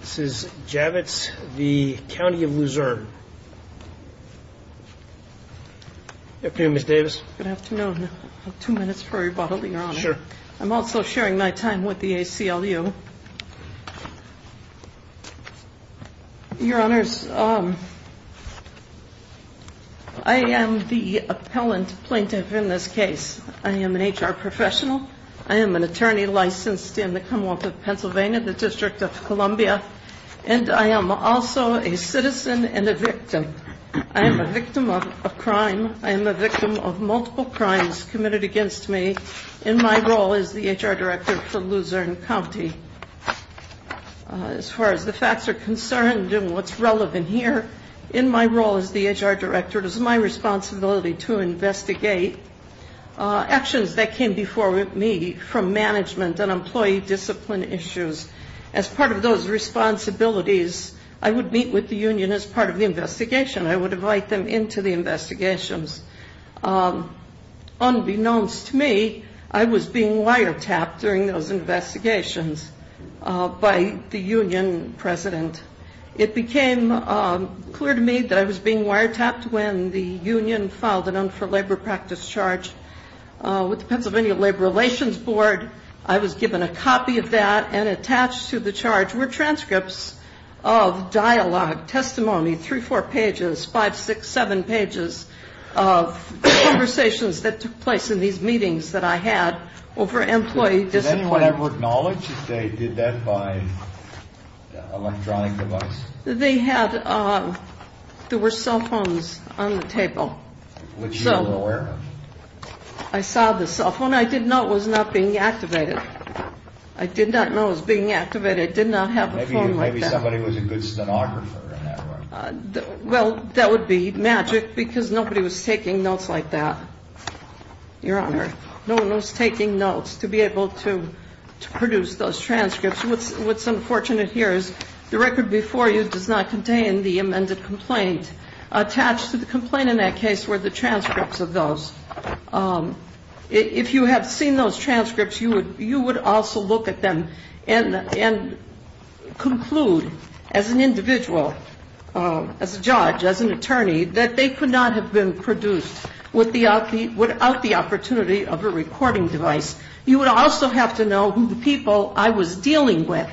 This is Javitz v. County of Luzerne. Good afternoon, Ms. Davis. Good afternoon. Two minutes for rebuttal, your honor. Sure. I'm also sharing my time with the ACLU. Your honors, I am the appellant plaintiff in this case. I am an HR professional. I am an attorney licensed in the Commonwealth of Pennsylvania, the District of Columbia, and I am also a citizen and a victim. I am a victim of a crime. I am a victim of multiple crimes committed against me in my role as the HR director for Luzerne County. As far as the facts are concerned and what's relevant here, in my role as the HR director, it is my responsibility to investigate actions that came before me from management and employee discipline issues. As part of those responsibilities, I would meet with the union as part of the investigation. I would invite them into the investigations. Unbeknownst to me, I was being wiretapped during those investigations by the union president. It became clear to me that I was being wiretapped when the union filed an un-for-labor practice charge with the Pennsylvania Labor Relations Board. I was given a copy of that and attached to the charge were transcripts of dialogue, testimony, three, four pages, five, six, seven pages of conversations that took place in these meetings that I had over employee discipline. Did anyone ever acknowledge that they did that by electronic device? They had, there were cell phones on the table. Which you were aware of? I saw the cell phone. I did know it was not being activated. I did not know it was being activated. I did not have a phone like that. Maybe somebody was a good stenographer in that way. Well, that would be magic because nobody was taking notes like that, Your Honor. No one was taking notes to be able to produce those transcripts. What's unfortunate here is the record before you does not contain the amended complaint. Attached to the complaint in that case were the transcripts of those. If you had seen those transcripts, you would also look at them and conclude as an individual, as a judge, as an attorney, that they could not have been produced without the opportunity of a recording device. You would also have to know who the people I was dealing with,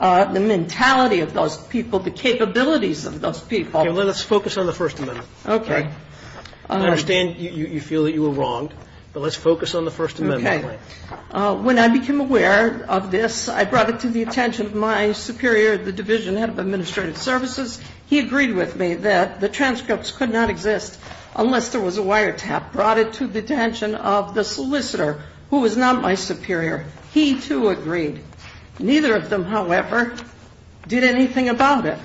the mentality of those people, the capabilities of those people. Okay. Well, let's focus on the First Amendment. Okay. I understand you feel that you were wronged, but let's focus on the First Amendment claim. Okay. When I became aware of this, I brought it to the attention of my superior, the division head of administrative services. He agreed with me that the transcripts could not exist unless there was a wiretap. Brought it to the attention of the solicitor, who was not my superior. He, too, agreed. Neither of them, however, did anything about it.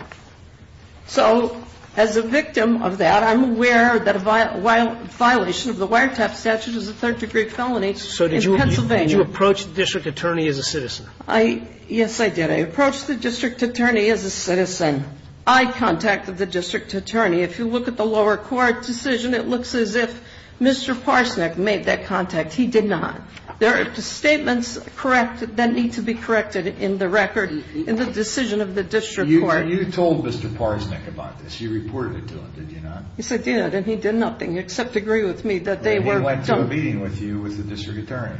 So as a victim of that, I'm aware that a violation of the wiretap statute is a third-degree felony in Pennsylvania. So did you approach the district attorney as a citizen? Yes, I did. I approached the district attorney as a citizen. I contacted the district attorney. If you look at the lower court decision, it looks as if Mr. Parsnick made that contact. He did not. There are statements that need to be corrected in the record, in the decision of the district court. You told Mr. Parsnick about this. You reported it to him, did you not? Yes, I did. And he did nothing except agree with me that they were He went to a meeting with you with the district attorney.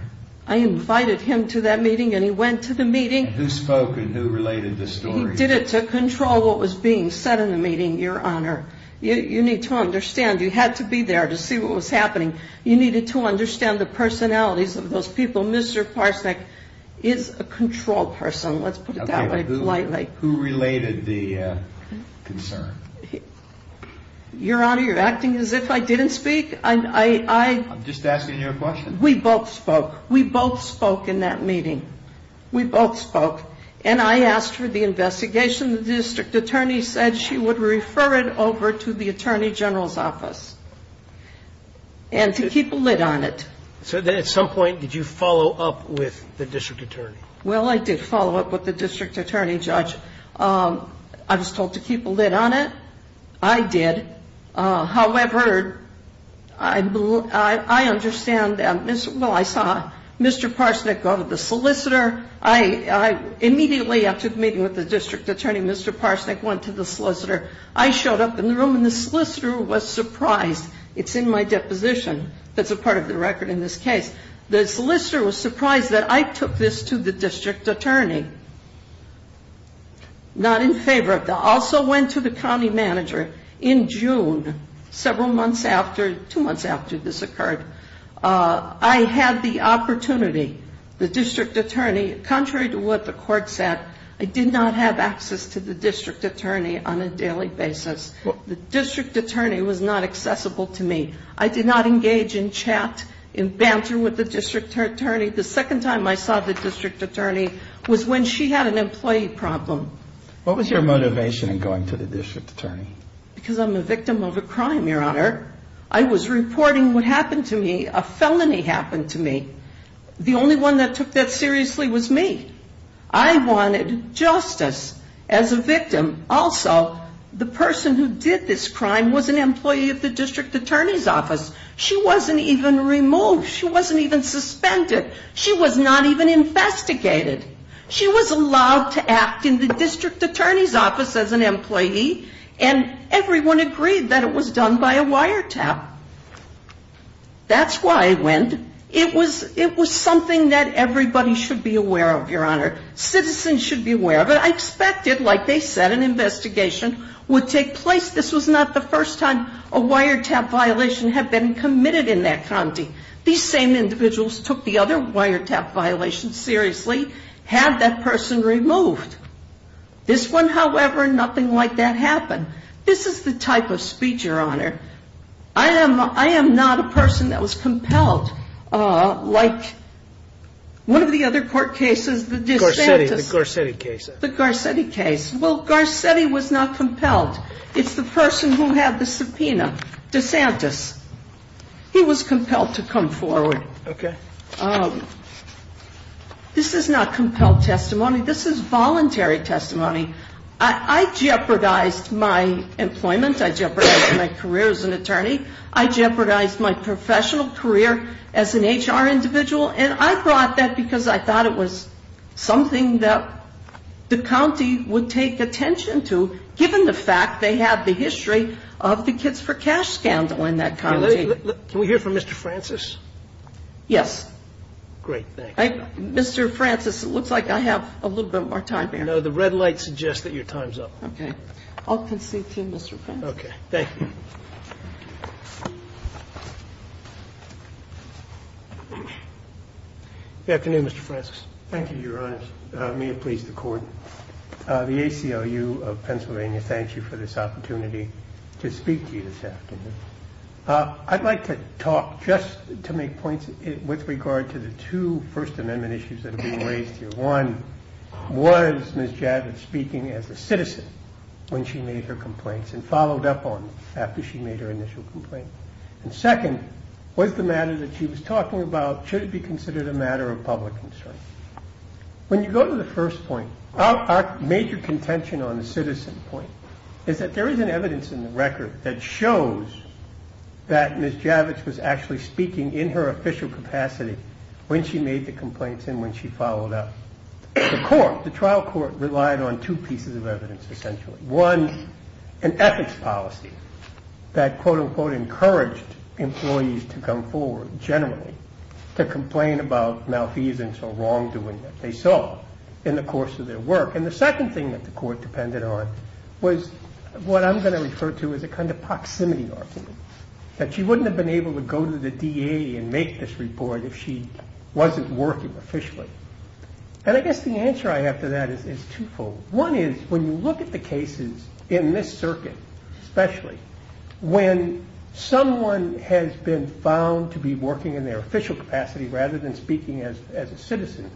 I invited him to that meeting and he went to the meeting. Who spoke and who related the story? He did it to control what was being said in the meeting, Your Honor. You need to understand. You had to be there to see what was happening. You needed to understand the personalities of those people. Mr. Parsnick is a control person. Let's put it that way, politely. Who related the concern? Your Honor, you're acting as if I didn't speak. I I'm just asking you a question. We both spoke. We both spoke in that meeting. We both spoke. And I asked for the investigation. The district attorney said she would refer it over to the attorney general's office. And to keep a lid on it. So then at some point, did you follow up with the district attorney? Well, I did follow up with the district attorney, Judge. I was told to keep a lid on it. I did. However, I understand. Well, I saw Mr. Parsnick go to the solicitor. Immediately after the meeting with the district attorney, Mr. Parsnick went to the solicitor. I showed up in the room and the solicitor was surprised. It's in my deposition. That's a part of the record in this case. The solicitor was surprised that I took this to the district attorney. Not in favor. Also went to the county manager. In June, several months after, two months after this occurred, I had the opportunity, the district attorney, contrary to what the court said, I did not have access to the district attorney on a daily basis. The district attorney was not accessible to me. I did not engage in chat and banter with the district attorney. The second time I saw the district attorney was when she had an employee problem. What was your motivation in going to the district attorney? Because I'm a victim of a crime, Your Honor. I was reporting what happened to me. A felony happened to me. The only one that took that seriously was me. I wanted justice as a victim. Also, the person who did this crime was an employee of the district attorney's office. She wasn't even removed. She wasn't even suspended. She was not even investigated. She was allowed to act in the district attorney's office as an employee, and everyone agreed that it was done by a wiretap. That's why I went. It was something that everybody should be aware of, Your Honor. Citizens should be aware of it. I expected, like they said, an investigation would take place. This was not the first time a wiretap violation had been committed in that county. These same individuals took the other wiretap violations seriously, had that person removed. This one, however, nothing like that happened. This is the type of speech, Your Honor. I am not a person that was compelled like one of the other court cases, the DeSantis. The Garcetti case. The Garcetti case. Well, Garcetti was not compelled. It's the person who had the subpoena. DeSantis. He was compelled to come forward. Okay. This is not compelled testimony. This is voluntary testimony. I jeopardized my employment. I jeopardized my career as an attorney. I jeopardized my professional career as an HR individual, and I brought that because I thought it was something that the county would take attention to, given the fact they had the history of the Kids for Cash scandal in that county. Can we hear from Mr. Francis? Yes. Great. Thank you. Mr. Francis, it looks like I have a little bit more time here. No, the red light suggests that your time's up. Okay. I'll concede to Mr. Francis. Okay. Thank you. Good afternoon, Mr. Francis. Thank you, Your Honor. May it please the Court. The ACLU of Pennsylvania thanks you for this opportunity to speak to you this afternoon. I'd like to talk just to make points with regard to the two First Amendment issues that are being raised here. One was Ms. Javits speaking as a citizen when she made her complaints and followed up on after she made her initial complaint. And second was the matter that she was talking about should it be considered a matter of public concern. When you go to the first point, our major contention on the citizen point is that there is an evidence in the record that shows that Ms. Javits was actually speaking in her official capacity when she made the complaints and when she followed up. The trial court relied on two pieces of evidence, essentially. One, an ethics policy that, quote-unquote, encouraged employees to come forward generally to complain about malfeasance or wrongdoing that they saw in the course of their work. And the second thing that the court depended on was what I'm going to refer to as a kind of proximity argument that she wouldn't have been able to go to the DA and make this report if she wasn't working officially. And I guess the answer I have to that is twofold. One is when you look at the cases in this circuit especially, when someone has been found to be working in their official capacity rather than speaking as a citizen,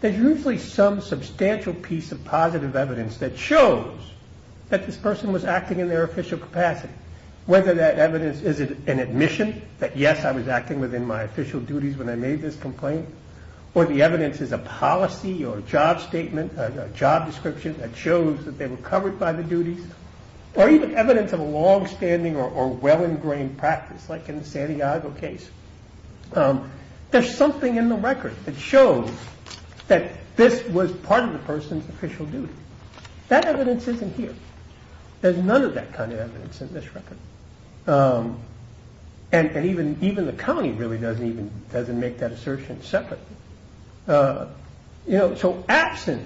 there's usually some substantial piece of positive evidence that shows that this person was acting in their official capacity. Whether that evidence is an admission that, yes, I was acting within my official duties when I made this complaint, or the evidence is a policy or a job statement, a job description that shows that they were covered by the duties, or even evidence of a long-standing or well-ingrained practice, like in the San Diego case. There's something in the record that shows that this was part of the person's official duty. That evidence isn't here. There's none of that kind of evidence in this record. And even the county really doesn't make that assertion separate. So absent,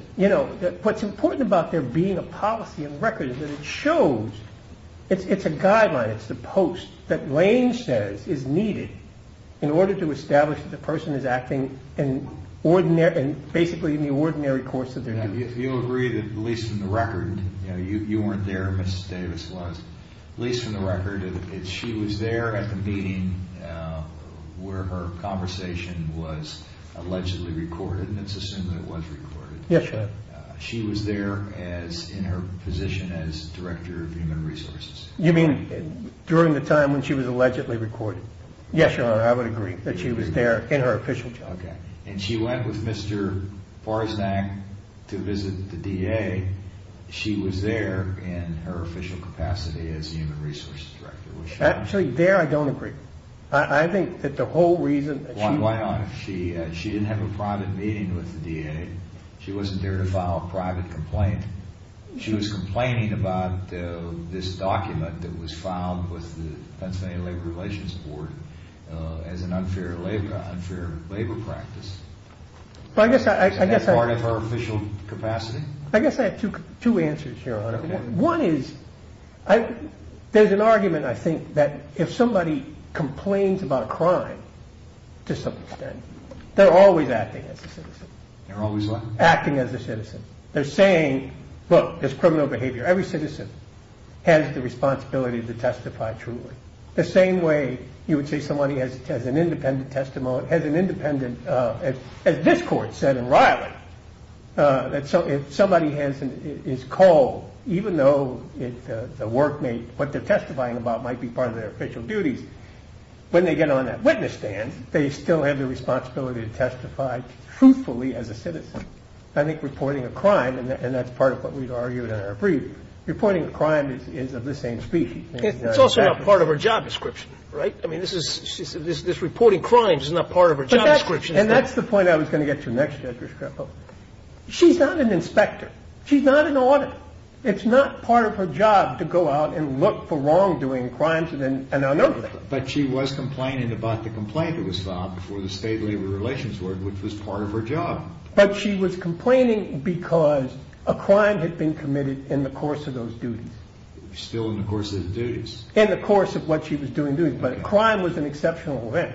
what's important about there being a policy in the record is that it shows, it's a guideline, it's the post that in order to establish that the person is acting in basically in the ordinary course of their duty. If you agree that at least in the record, you weren't there, Mrs. Davis was, at least in the record, she was there at the meeting where her conversation was allegedly recorded, and it's assumed that it was recorded. Yes, Your Honor. She was there in her position as Director of Human Resources. You mean during the time when she was allegedly recorded? Yes, Your Honor, I would agree that she was there in her official job. And she went with Mr. Forsnack to visit the DA. She was there in her official capacity as Human Resources Director. Actually, there I don't agree. I think that the whole reason Why not? She didn't have a private meeting with the DA. She wasn't there to file a private complaint. She was complaining about this document that was filed with the Pennsylvania Labor Relations Board as an unfair labor practice. Is that part of her official capacity? I guess I have two answers, Your Honor. One is there's an argument, I think, that if somebody complains about a crime, to some extent, they're always acting as a citizen. They're always what? Acting as a citizen. They're saying, look, there's criminal behavior. Every citizen has the responsibility to testify truly. The same way you would say somebody has an independent testimony, has an independent as this court said in Riley, that if somebody is called, even though the workmate, what they're testifying about might be part of their official duties, when they get on that witness stand, they still have the responsibility to testify truthfully as a citizen. And that's part of what we've argued in our brief. Reporting a crime is of the same species. It's also not part of her job description, right? I mean, this is reporting crimes is not part of her job description. And that's the point I was going to get to next, Judge Reschrepo. She's not an inspector. She's not an auditor. It's not part of her job to go out and look for wrongdoing, crimes and unethical. But she was complaining about the complaint that was filed before the state labor relations work, which was part of her job. But she was complaining because a crime had been committed in the course of those duties. Still in the course of the duties. In the course of what she was doing duties. But a crime was an exceptional event.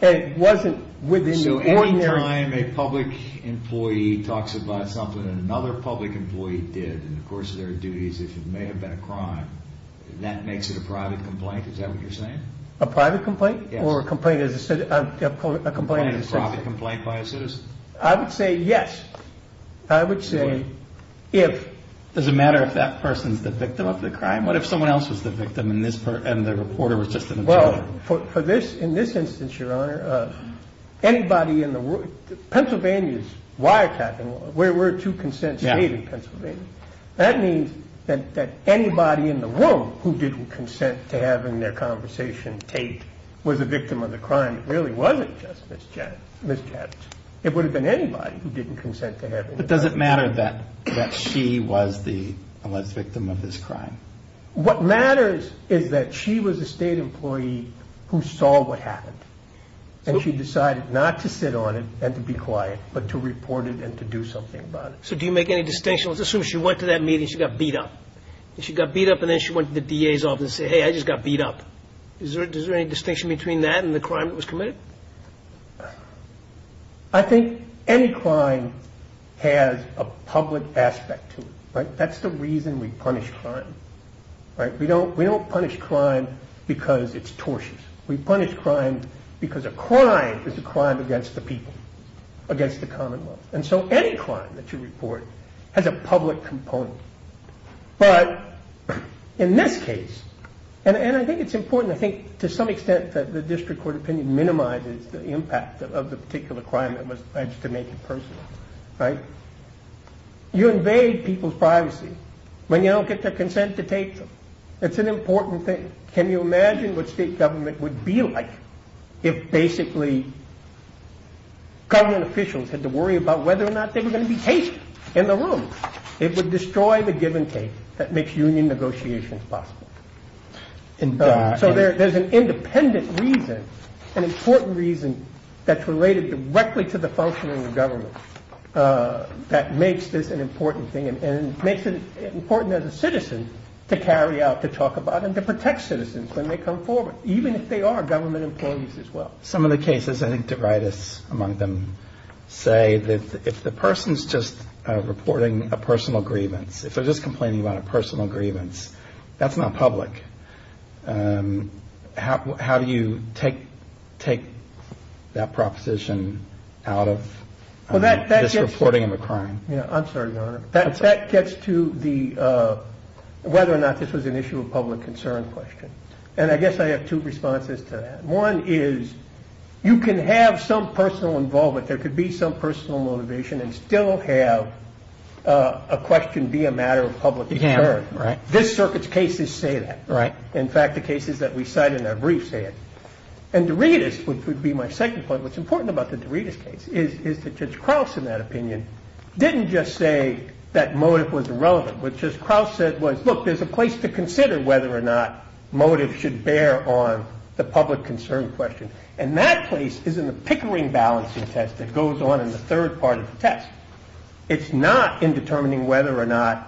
And it wasn't within the ordinary... So any time a public employee talks about something that another public employee did in the course of their duties, if it may have been a crime, that makes it a private complaint? Is that what you're saying? A private complaint? Or a complaint as a citizen? A private complaint by a citizen? I would say yes. I would say if... Does it matter if that person is the victim of the crime? What if someone else was the victim and the reporter was just an observer? Well, in this instance, Your Honor, anybody in the Pennsylvania's wiretapping law, where were two consents made in Pennsylvania, that means that anybody in the room who didn't consent to having their conversation taped was a victim of the crime. It really wasn't just Ms. Jett. It would have been anybody who didn't consent to having... But does it matter that she was the victim of this crime? What matters is that she was a state employee who saw what happened. And she decided not to sit on it and to be quiet, but to report it and to do something about it. So do you make any distinction? Let's assume she went to that meeting, she got beat up. She got beat up and then she went to the DA's office and said, hey, I just got beat up. Is there any distinction between that and the crime that was committed? I think any crime has a public aspect to it. That's the reason we punish crime. We don't punish crime because it's tortious. We punish crime because a crime is a crime against the people. Against the commonwealth. And so any crime that you report has a public component. But in this case, and I think it's important, I think to some extent that the district court opinion minimizes the impact of the particular crime that was alleged to make it personal. You invade people's privacy when you don't get their consent to take them. It's an important thing. Can you imagine what state government would be like if basically government officials had to worry about whether or not they were going to be able to destroy the give and take that makes union negotiations possible? So there's an independent reason, an important reason that's related directly to the functioning of government that makes this an important thing and makes it important as a citizen to carry out, to talk about and to protect citizens when they come forward, even if they are government employees as well. Some of the cases, I think DeRitus, among them, say that if the person's just reporting a personal grievance, if they're just complaining about a personal grievance, that's not public. How do you take that proposition out of this reporting of a crime? That gets to whether or not this was an issue of public concern question. And I guess I have two responses to that. One is you can have some personal involvement, there could be some personal motivation and still have a question be a matter of public concern. This circuit's cases say that. In fact, the cases that we cite in our briefs say it. And DeRitus, which would be my second point, what's important about the DeRitus case is that Judge Krauss in that opinion didn't just say that motive was irrelevant. What Judge Krauss said was look, there's a place to consider whether or not motive should bear on the public concern question. And that place is in the Pickering Balancing Test that goes on in the third part of the test. It's not in determining whether or not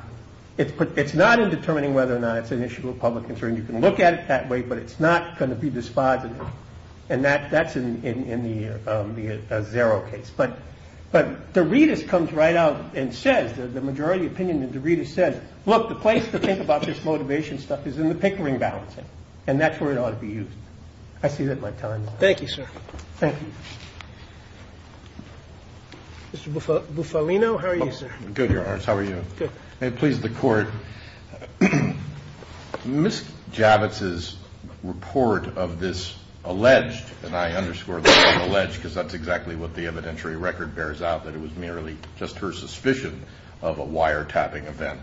it's an issue of public concern. You can look at it that way, but it's not going to be dispositive. And that's in the Zero case. But DeRitus comes right out and says, the majority opinion of DeRitus says, look, the place to think about this motivation stuff is in the Pickering Balancing. And that's where it ought to be used. I see that my time's up. Thank you, sir. Mr. Bufalino, how are you, sir? Good, Your Honor. How are you? Good. May it please the Court, Ms. Javits' report of this alleged, and I underscore the word alleged because that's exactly what the evidentiary record bears out, that it was merely just her suspicion of a wiretapping event,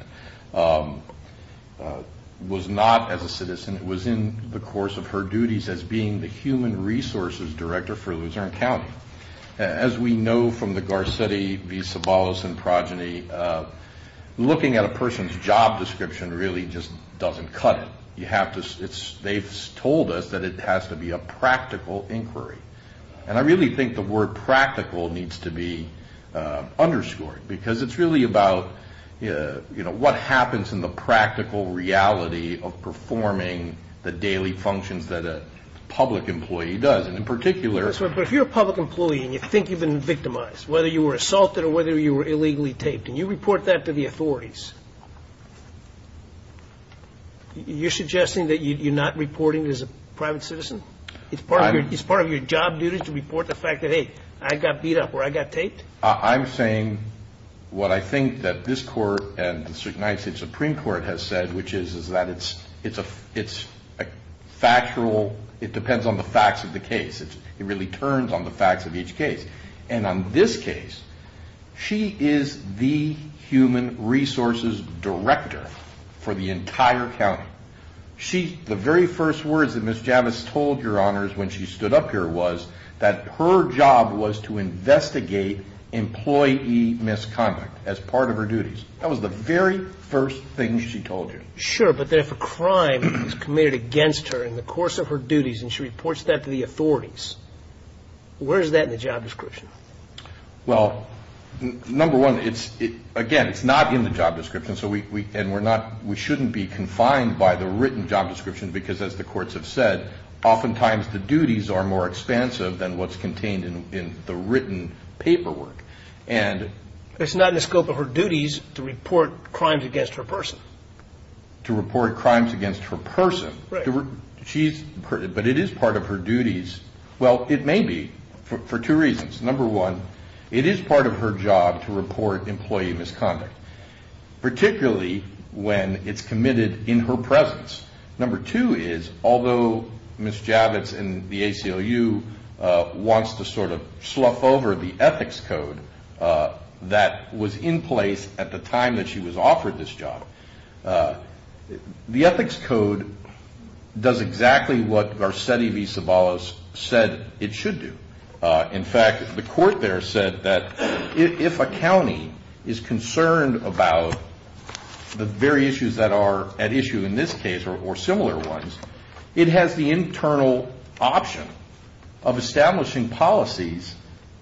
was not as a citizen. It was in the course of her resources director for Luzerne County. As we know from the Garcetti v. Sobolos and progeny, looking at a person's job description really just doesn't cut it. They've told us that it has to be a practical inquiry. And I really think the word practical needs to be underscored because it's really about what happens in the practical reality of performing the daily functions that a public employee does. And in particular... But if you're a public employee and you think you've been victimized, whether you were assaulted or whether you were illegally taped, and you report that to the authorities, you're suggesting that you're not reporting as a private citizen? It's part of your job duty to report the fact that, hey, I got beat up or I got taped? I'm saying what I think that this Court and the United States Supreme Court has said, which is that it's a factual... It depends on the facts of the case. It really turns on the facts of each case. And on this case, she is the human resources director for the entire county. The very first words that Ms. Javis told Your Honors when she stood up here was that her job was to investigate employee misconduct as part of her duties. That was the very first thing she told you. Sure, but then if a crime is committed against her in the course of her duties and she reports that to the authorities, where is that in the job description? Well, number one, again, it's not in the job description, and we shouldn't be confined by the written job description because, as the courts have said, oftentimes the duties are more expansive than what's contained in the written paperwork. It's not in the scope of her duties to report crimes against her person. To report crimes against her person. But it is part of her duties. Well, it may be for two reasons. Number one, it is part of her job to report employee misconduct, particularly when it's committed in her presence. Number two is, although Ms. Javis and the ACLU wants to sort of slough over the ethics code that was in place at the time that she was offered this job, the ethics code does exactly what Garcetti v. Sabalas said it should do. In fact, the court there said that if a county is concerned about the very issues that are at issue in this case, or similar ones, it has the internal option of establishing policies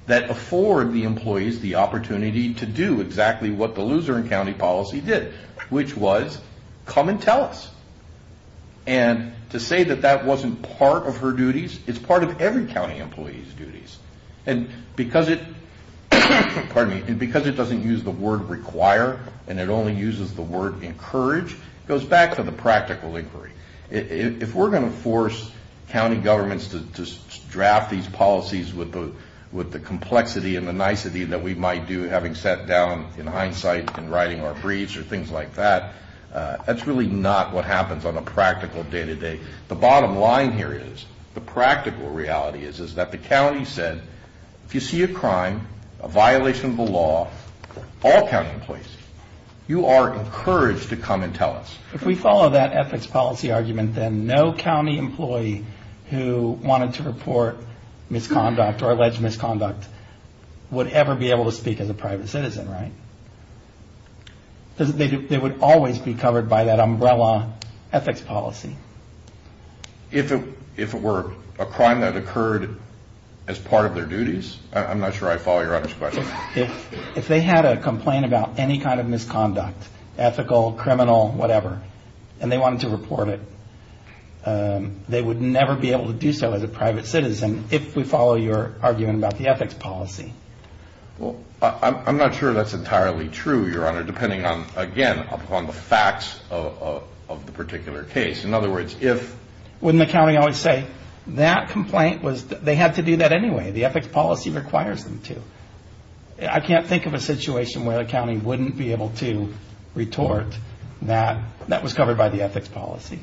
that afford the employees the opportunity to do exactly what the loser in county policy did, which was come and tell us. And to say that that wasn't part of her duties, it's part of every county employee's duties. And because it doesn't use the word require, and it only uses the word encourage, it goes back to the practical inquiry. If we're going to force county governments to draft these policies with the complexity and the nicety that we might do, having sat down in hindsight and writing our briefs or things like that, that's really not what happens on a practical day-to-day. The bottom line here is the practical reality is that the county said, if you see a crime, a violation of the law, all county employees, you are encouraged to come and tell us. If we follow that ethics policy argument, then no county employee who wanted to report an alleged misconduct would ever be able to speak as a private citizen, right? Because they would always be covered by that umbrella ethics policy. If it were a crime that occurred as part of their duties? I'm not sure I follow your other question. If they had a complaint about any kind of misconduct, ethical, criminal, whatever, and they wanted to report it, they would never be able to do so as a private citizen if we follow your argument about the ethics policy. Well, I'm not sure that's entirely true, Your Honor, depending on, again, upon the facts of the particular case. In other words, if wouldn't the county always say, that complaint was, they had to do that anyway. The ethics policy requires them to. I can't think of a situation where a county wouldn't be able to retort that that was covered by the ethics policy.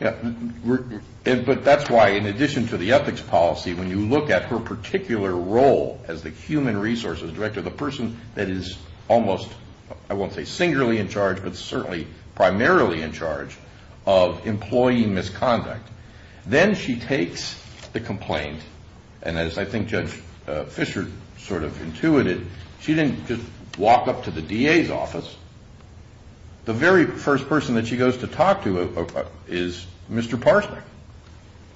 But that's why in addition to the ethics policy, when you look at her particular role as the human resources director, the person that is almost, I won't say singularly in charge, but certainly primarily in charge of employee misconduct, then she takes the complaint and as I think Judge Fischer sort of intuited, she didn't just walk up to the DA's office. The very first person that she goes to talk to is Mr. Parsnick,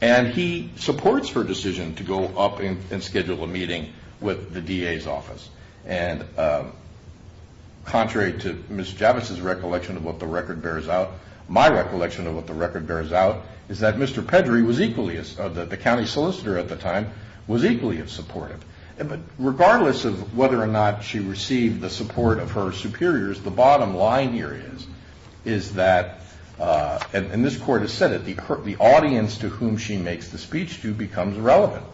and he supports her decision to go up and schedule a meeting with the DA's office. And contrary to Ms. Javits' recollection of what the record bears out, my recollection of what the record bears out is that Mr. Pedry, the county solicitor at the time, was equally as supportive. But regardless of whether or not she received the support of her superiors, the bottom line here is that, and this court has said it, the audience to whom she makes the speech to becomes irrelevant.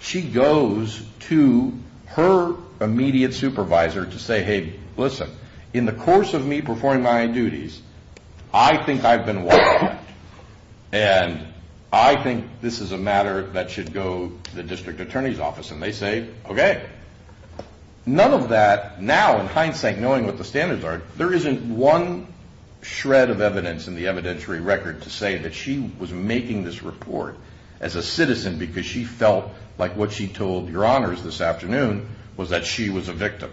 She goes to her immediate supervisor to say, hey, listen, in the course of me performing my duties, I think I've been walked out. And I think this is a matter that should go to the district attorney's office. And they say, okay. None of that, now in hindsight, knowing what the standards are, there isn't one shred of evidence in the evidentiary record to say that she was making this report as a citizen because she felt like what she told your honors this afternoon was that she was a victim.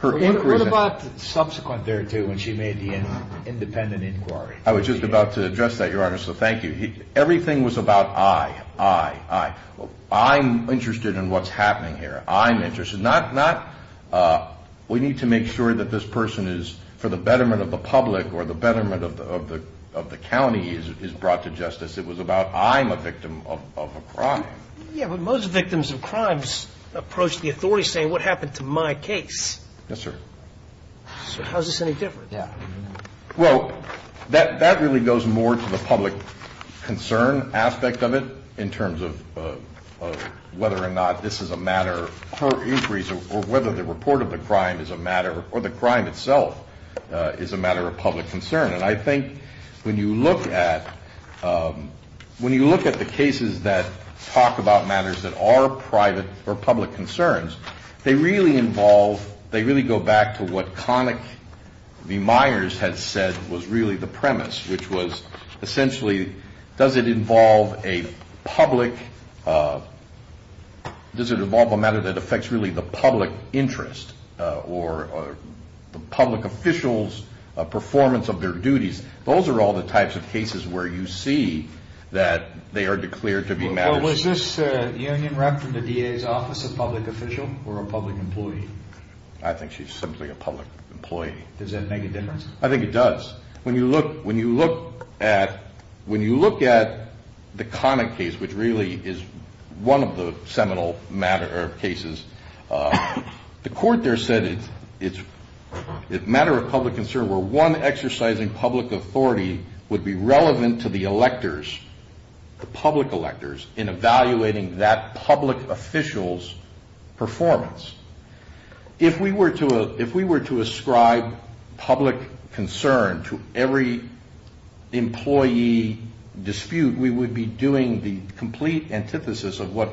What about subsequent there, too, when she made the independent inquiry? I was just about to address that, your honor, so thank you. Everything was about I, I, I. I'm interested in what's happening here. I'm interested. Not we need to make sure that this person is, for the betterment of the public or the betterment of the county is brought to justice. It was about I'm a victim of a crime. Yeah, but most victims of crimes approach the authorities saying what happened to my case? Yes, sir. So how is this any different? Well, that really goes more to the public concern aspect of it in terms of whether or not this is a matter for inquiries or whether the report of the crime is a matter or the crime itself is a matter of public concern. And I think when you look at when you look at the cases that talk about matters that are private or public concerns, they really involve they really go back to what Connick v. Myers had said was really the premise, which was essentially does it involve a public does it involve a matter that affects really the public interest or the public official's performance of their duties? Those are all the types of cases where you see that they are declared to be matters. Was this union rep from the DA's office a public official or a public employee? I think she's simply a public employee. Does that make a difference? I think it does. When you look at when you look at the Connick case, which really is one of the seminal cases, the court there said it's a matter of public concern where one exercising public authority would be relevant to the electors, the public electors, in evaluating that public official's performance. If we were to ascribe public concern to every employee dispute, we would be doing the complete antithesis of what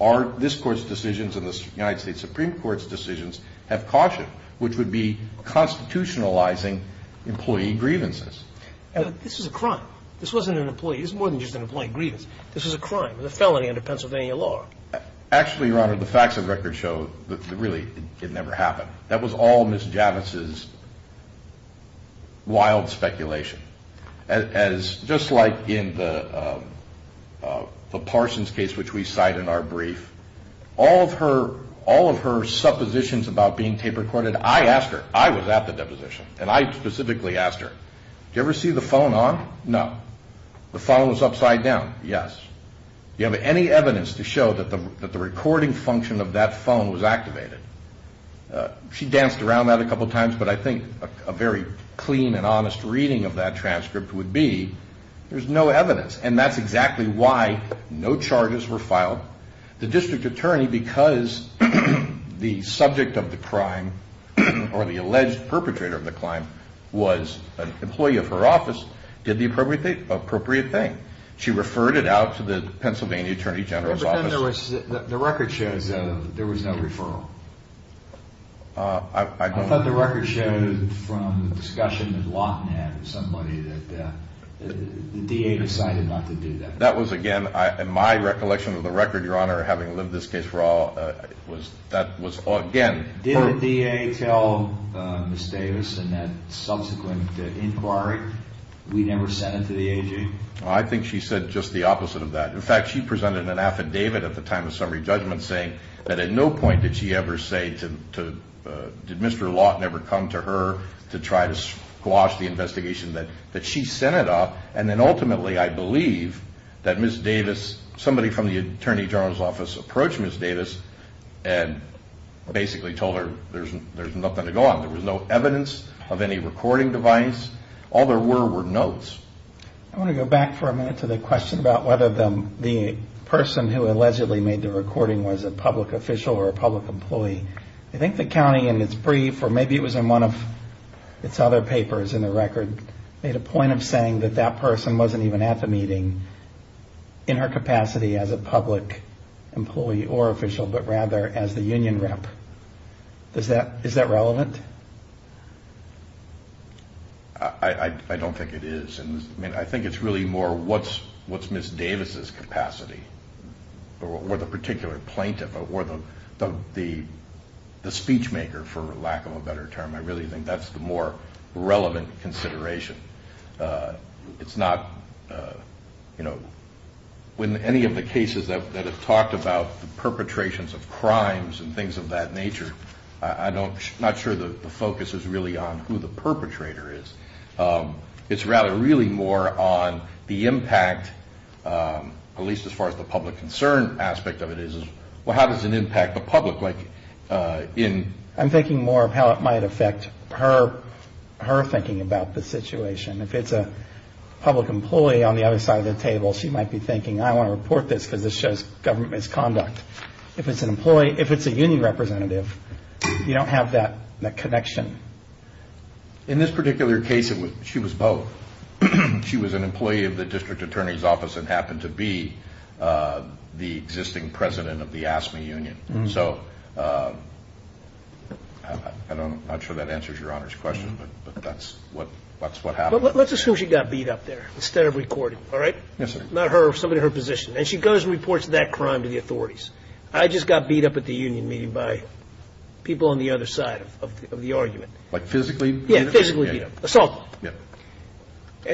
our this Court's decisions and the United States Supreme Court's decisions have cautioned, which would be constitutionalizing employee grievances. This is a crime. This wasn't an employee. It's more than just an employee grievance. This was a crime. It was a felony under Pennsylvania law. Actually, Your Honor, the facts of record show that really it never happened. That was all Ms. Javits's wild speculation. Just like in the Parsons case, which we cite in our brief, all of her suppositions about being tape recorded, I asked her. I was at the deposition, and I specifically asked her, do you ever see the phone on? No. The phone was upside down. Yes. Do you have any evidence to show that the recording function of that phone was activated? She danced around that a couple times, but I think a very clean and honest reading of that transcript would be there's no evidence, and that's exactly why no charges were filed. The District Attorney, because the subject of the crime or the alleged perpetrator of the crime was an employee of her office, did the appropriate thing. She referred it out to the Pennsylvania Attorney General's office. But then there was, the record shows there was no referral. I thought the record showed from a discussion that Lawton had with somebody that the DA decided not to do that. That was, again, in my recollection of the record, Your Honor, having lived this case for all, that was, again... Did the DA tell Ms. Davis in that subsequent inquiry, we never sent it to the AG? I think she said just the opposite of that. In fact, she presented an affidavit at the time of summary judgment saying that at no point did she ever say did Mr. Lawton ever come to her to try to squash the investigation that she sent it up. And then ultimately, I believe that Ms. Davis, somebody from the Attorney General's office approached Ms. Davis and basically told her there's nothing to go on. There was no evidence of any recording device. All there were were notes. I want to go back for a minute to the question about whether the person who allegedly made the recording was a public official or a public employee. I think the county in its brief, or maybe it was in one of its other papers in the record, made a point of saying that that person wasn't even at the meeting in her capacity as a public employee or official, but rather as the union rep. Is that relevant? I don't think it is. I think it's really more what's Ms. Davis' capacity, or the particular plaintiff, or the speech maker for lack of a better term. I really think that's the more relevant consideration. It's not when any of the cases that have talked about the perpetrations of crimes and things of that nature, I'm not sure the focus is really on who the perpetrator is. It's really more on the impact at least as far as the public concern aspect of it is. How does it impact the public? I'm thinking more of how it might affect her thinking about the situation. If it's a public employee on the other side of the table, she might be thinking I want to report this because it shows government misconduct. If it's a union representative, you don't have that connection. In this particular case, she was both. She was an employee of the district attorney's office and happened to be the existing president of the AFSCME union. I'm not sure that answers your Honor's question, but that's what happened. Let's assume she got beat up there instead of recorded. She goes and reports that crime to the authorities. I just got beat up at the union meeting by people on the other side of the argument. Physically beat up? Yeah, physically beat up. Assaulted.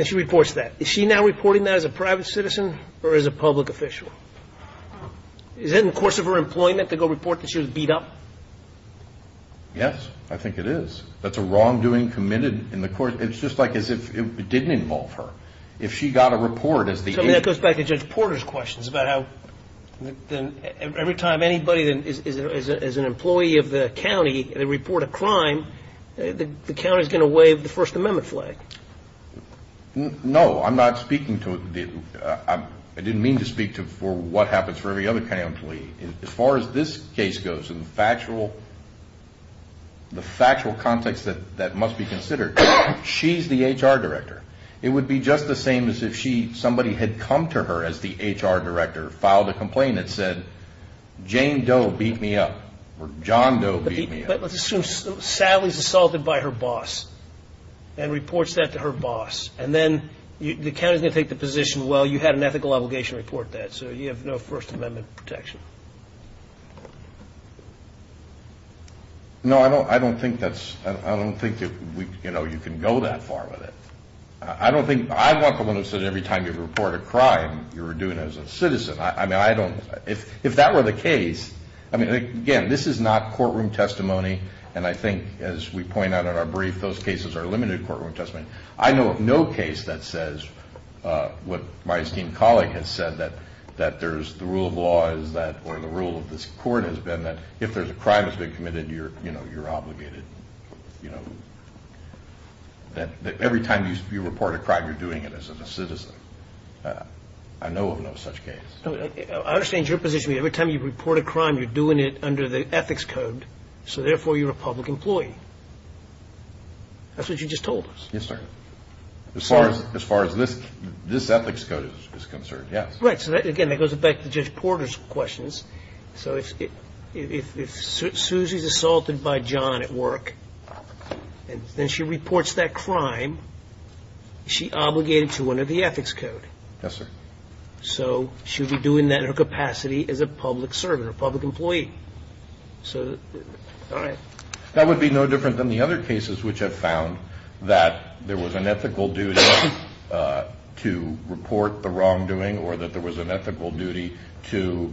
She reports that. Is she now reporting that as a private citizen or as a public official? Is it in the course of her employment to go report that she was beat up? Yes, I think it is. That's a wrongdoing committed. It's just like as if it didn't involve her. That goes back to Judge Porter's questions about how every time anybody is an employee of the county and they report a crime, the county is going to waive the First Amendment flag. No, I'm not speaking to I didn't mean to speak to what happens for every other county employee. As far as this case goes, the factual context that must be considered, she's the HR director. It would be just the same as if somebody had come to her as the attorney and said, Jane Doe beat me up, or John Doe beat me up. But let's assume Sally is assaulted by her boss and reports that to her boss, and then the county is going to take the position well, you had an ethical obligation to report that, so you have no First Amendment protection. No, I don't think that you can go that far with it. Every time you report a crime, you're doing it as a citizen. If that were the case, again, this is not courtroom testimony and I think as we point out in our brief, those cases are limited courtroom testimony. I know of no case that says what my esteemed colleague has said that the rule of law is that, or the rule of this court has been that if there's a crime that's been committed, you're obligated. Every time you report a crime, you're doing it as a citizen. I know of no such case. I understand your position, every time you report a crime, you're doing it under the ethics code so therefore you're a public employee. That's what you just told us. Yes, sir. As far as this ethics code is concerned, yes. Right, so again, that goes back to Judge Porter's questions. So if Susie's assaulted by John at work and then she reports that crime she's obligated to under the ethics code. Yes, sir. So she would be doing that in her capacity as a public servant, a public employee. That would be no different than the other cases which have found that there was an ethical duty to report the wrongdoing or that there was an ethical duty to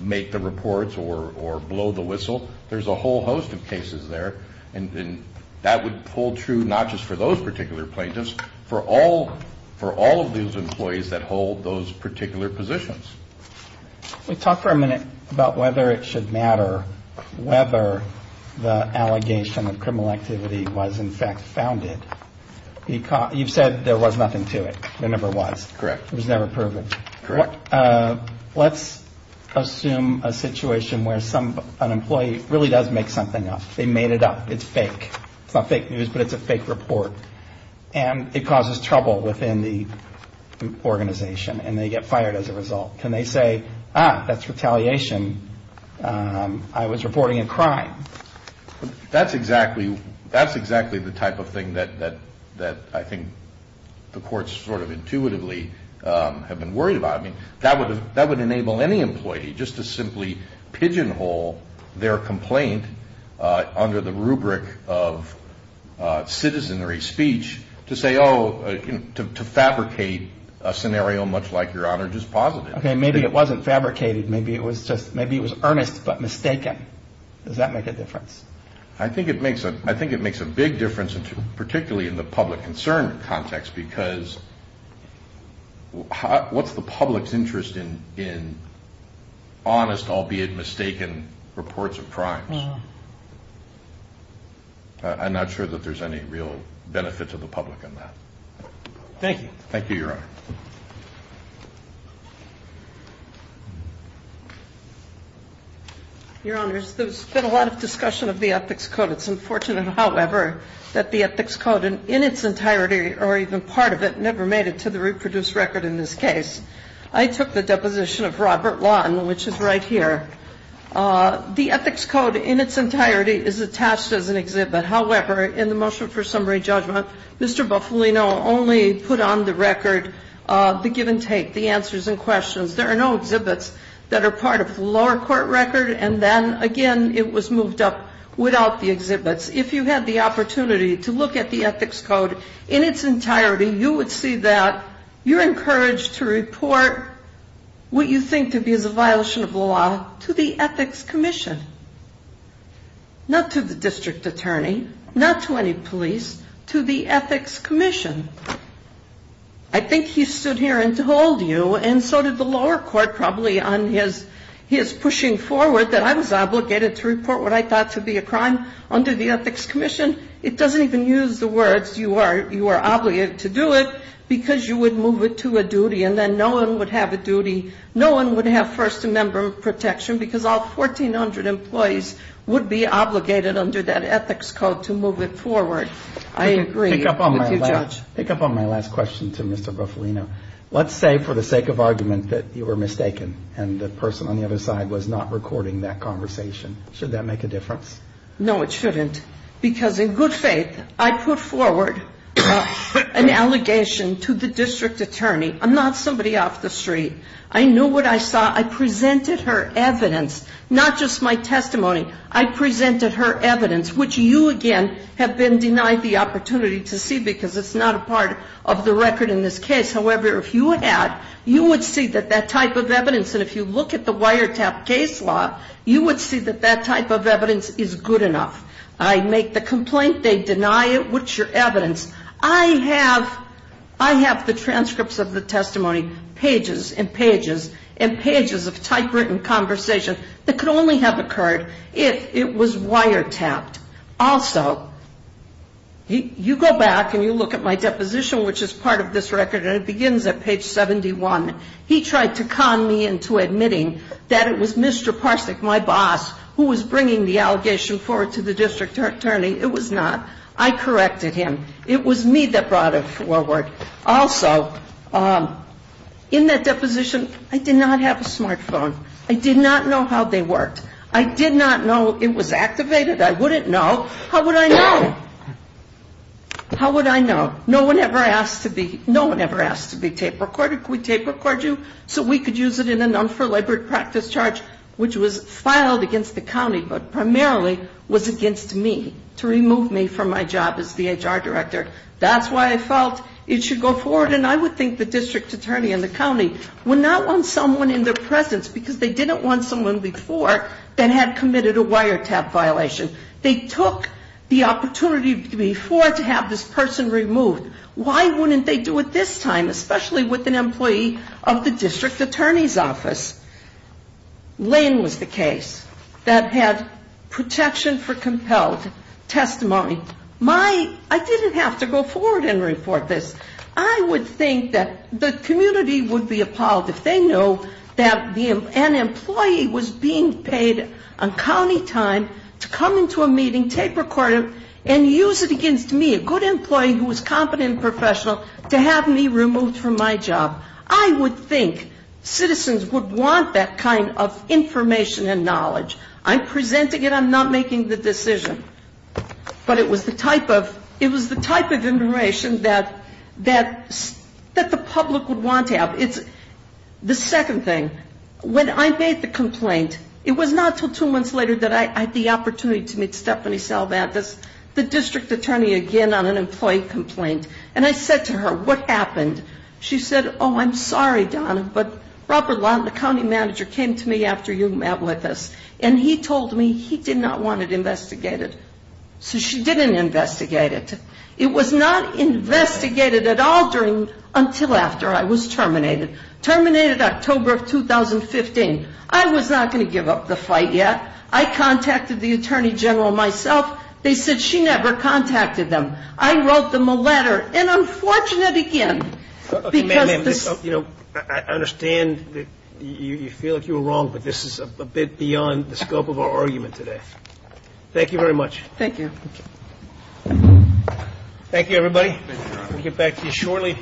make the reports or blow the whistle. There's a whole host of cases there and that would hold true not just for those particular plaintiffs but for all of those employees that hold those particular positions. Let's talk for a minute about whether it should matter whether the allegation of criminal activity was in fact founded. You've said there was nothing to it. There never was. Correct. It was never proven. Correct. Let's assume a situation where an employee really does make something up. They made it up. It's fake. It's not fake news, but it's a fake report. And it causes trouble within the organization and they get fired as a result. Can they say, ah, that's retaliation. I was reporting a crime. That's exactly the type of thing that I think the courts sort of intuitively have been worried about. That would enable any employee just to simply pigeonhole their complaint under the rubric of citizenry speech to fabricate a scenario much like Your Honor just posited. Maybe it wasn't fabricated. Maybe it was earnest but mistaken. Does that make a difference? I think it makes a big difference, particularly in the public concern context because what's the public's interest in honest, albeit mistaken, reports of crimes? I'm not sure that there's any real benefit to the public on that. Thank you. Thank you, Your Honor. Your Honors, there's been a lot of discussion of the Ethics Code. It's unfortunate, however, that the Ethics Code in its entirety, or even part of it, never made it to the reproduced record in this case. I took the deposition of Robert Lawton, which is right here. The Ethics Code in its entirety is attached as an exhibit. However, in the motion for summary judgment, Mr. Bufalino only put on the record the give and take, the answers and questions. There are no exhibits that are part of the lower court record, and then again, it was moved up without the exhibits. If you had the opportunity to look at the Ethics Code in its entirety, you would see that you're encouraged to report what you think to be as a violation of the law to the Ethics Commission. Not to the district attorney, not to any police, to the Ethics Commission. I think he stood here and told you, and so did the lower court probably on his pushing forward that I was obligated to report what I thought to be a crime under the Ethics Commission. It doesn't even use the words, you are obligated to do it because you would move it to a duty and then no one would have a duty, no one would have First Amendment protection because all 1,400 employees would be obligated under that Ethics Code to move it forward. I agree with you, Judge. Pick up on my last question to Mr. Bufalino. Let's say for the sake of argument that you were mistaken and the person on the other side was not recording that conversation. Should that make a difference? No, it shouldn't. Because in good faith, I put forward an allegation to the district attorney. I'm not somebody off the street. I knew what I saw. I presented her evidence, not just my testimony. I presented her evidence, which you again have been denied the opportunity to see because it's not a part of the record in this case. However, if you had, you would see that that type of evidence, and if you look at the wiretap case law, you would see that that type of evidence is good enough. I make the complaint. They deny it. What's your evidence? I have the transcripts of the testimony pages and pages and pages of typewritten conversation that could only have occurred if it was wiretapped. Also, you go back and you look at my deposition, which is part of this record, and it begins at page 71. He tried to con me into admitting that it was Mr. Parsnick, my boss, who was bringing the allegation forward to the district attorney. It was not. I corrected him. It was me that brought it forward. Also, in that deposition, I did not have a smartphone. I did not know how they worked. I did not know it was activated. I wouldn't know. How would I know? How would I know? No one ever asked to be tape recorded. Could we tape record you so we could use it in an investigation? It was not against the county, but primarily was against me, to remove me from my job as the HR director. That's why I felt it should go forward, and I would think the district attorney and the county would not want someone in their presence, because they didn't want someone before that had committed a wiretap violation. They took the opportunity before to have this person removed. Why wouldn't they do it this time, especially with an employee of the county that had protection for compelled testimony? I didn't have to go forward and report this. I would think that the community would be appalled if they knew that an employee was being paid on county time to come into a meeting, tape record him, and use it against me, a good employee who was competent and professional, to have me removed from my job. I would think citizens would want that kind of information and knowledge. I'm presenting it. I'm not making the decision. But it was the type of information that the public would want to have. The second thing, when I made the complaint, it was not until two months later that I had the opportunity to meet Stephanie Salvantas, the district attorney, again on an employee complaint. And I said to her, what happened? She said, oh, I'm sorry, Donna, but Robert you met with us. And he told me he did not want it investigated. So she didn't investigate it. It was not investigated at all until after I was terminated. Terminated October of 2015. I was not going to give up the fight yet. I contacted the attorney general myself. They said she never contacted them. I wrote them a letter. And unfortunate again, because this... is a bit beyond the scope of our argument today. Thank you very much. Thank you.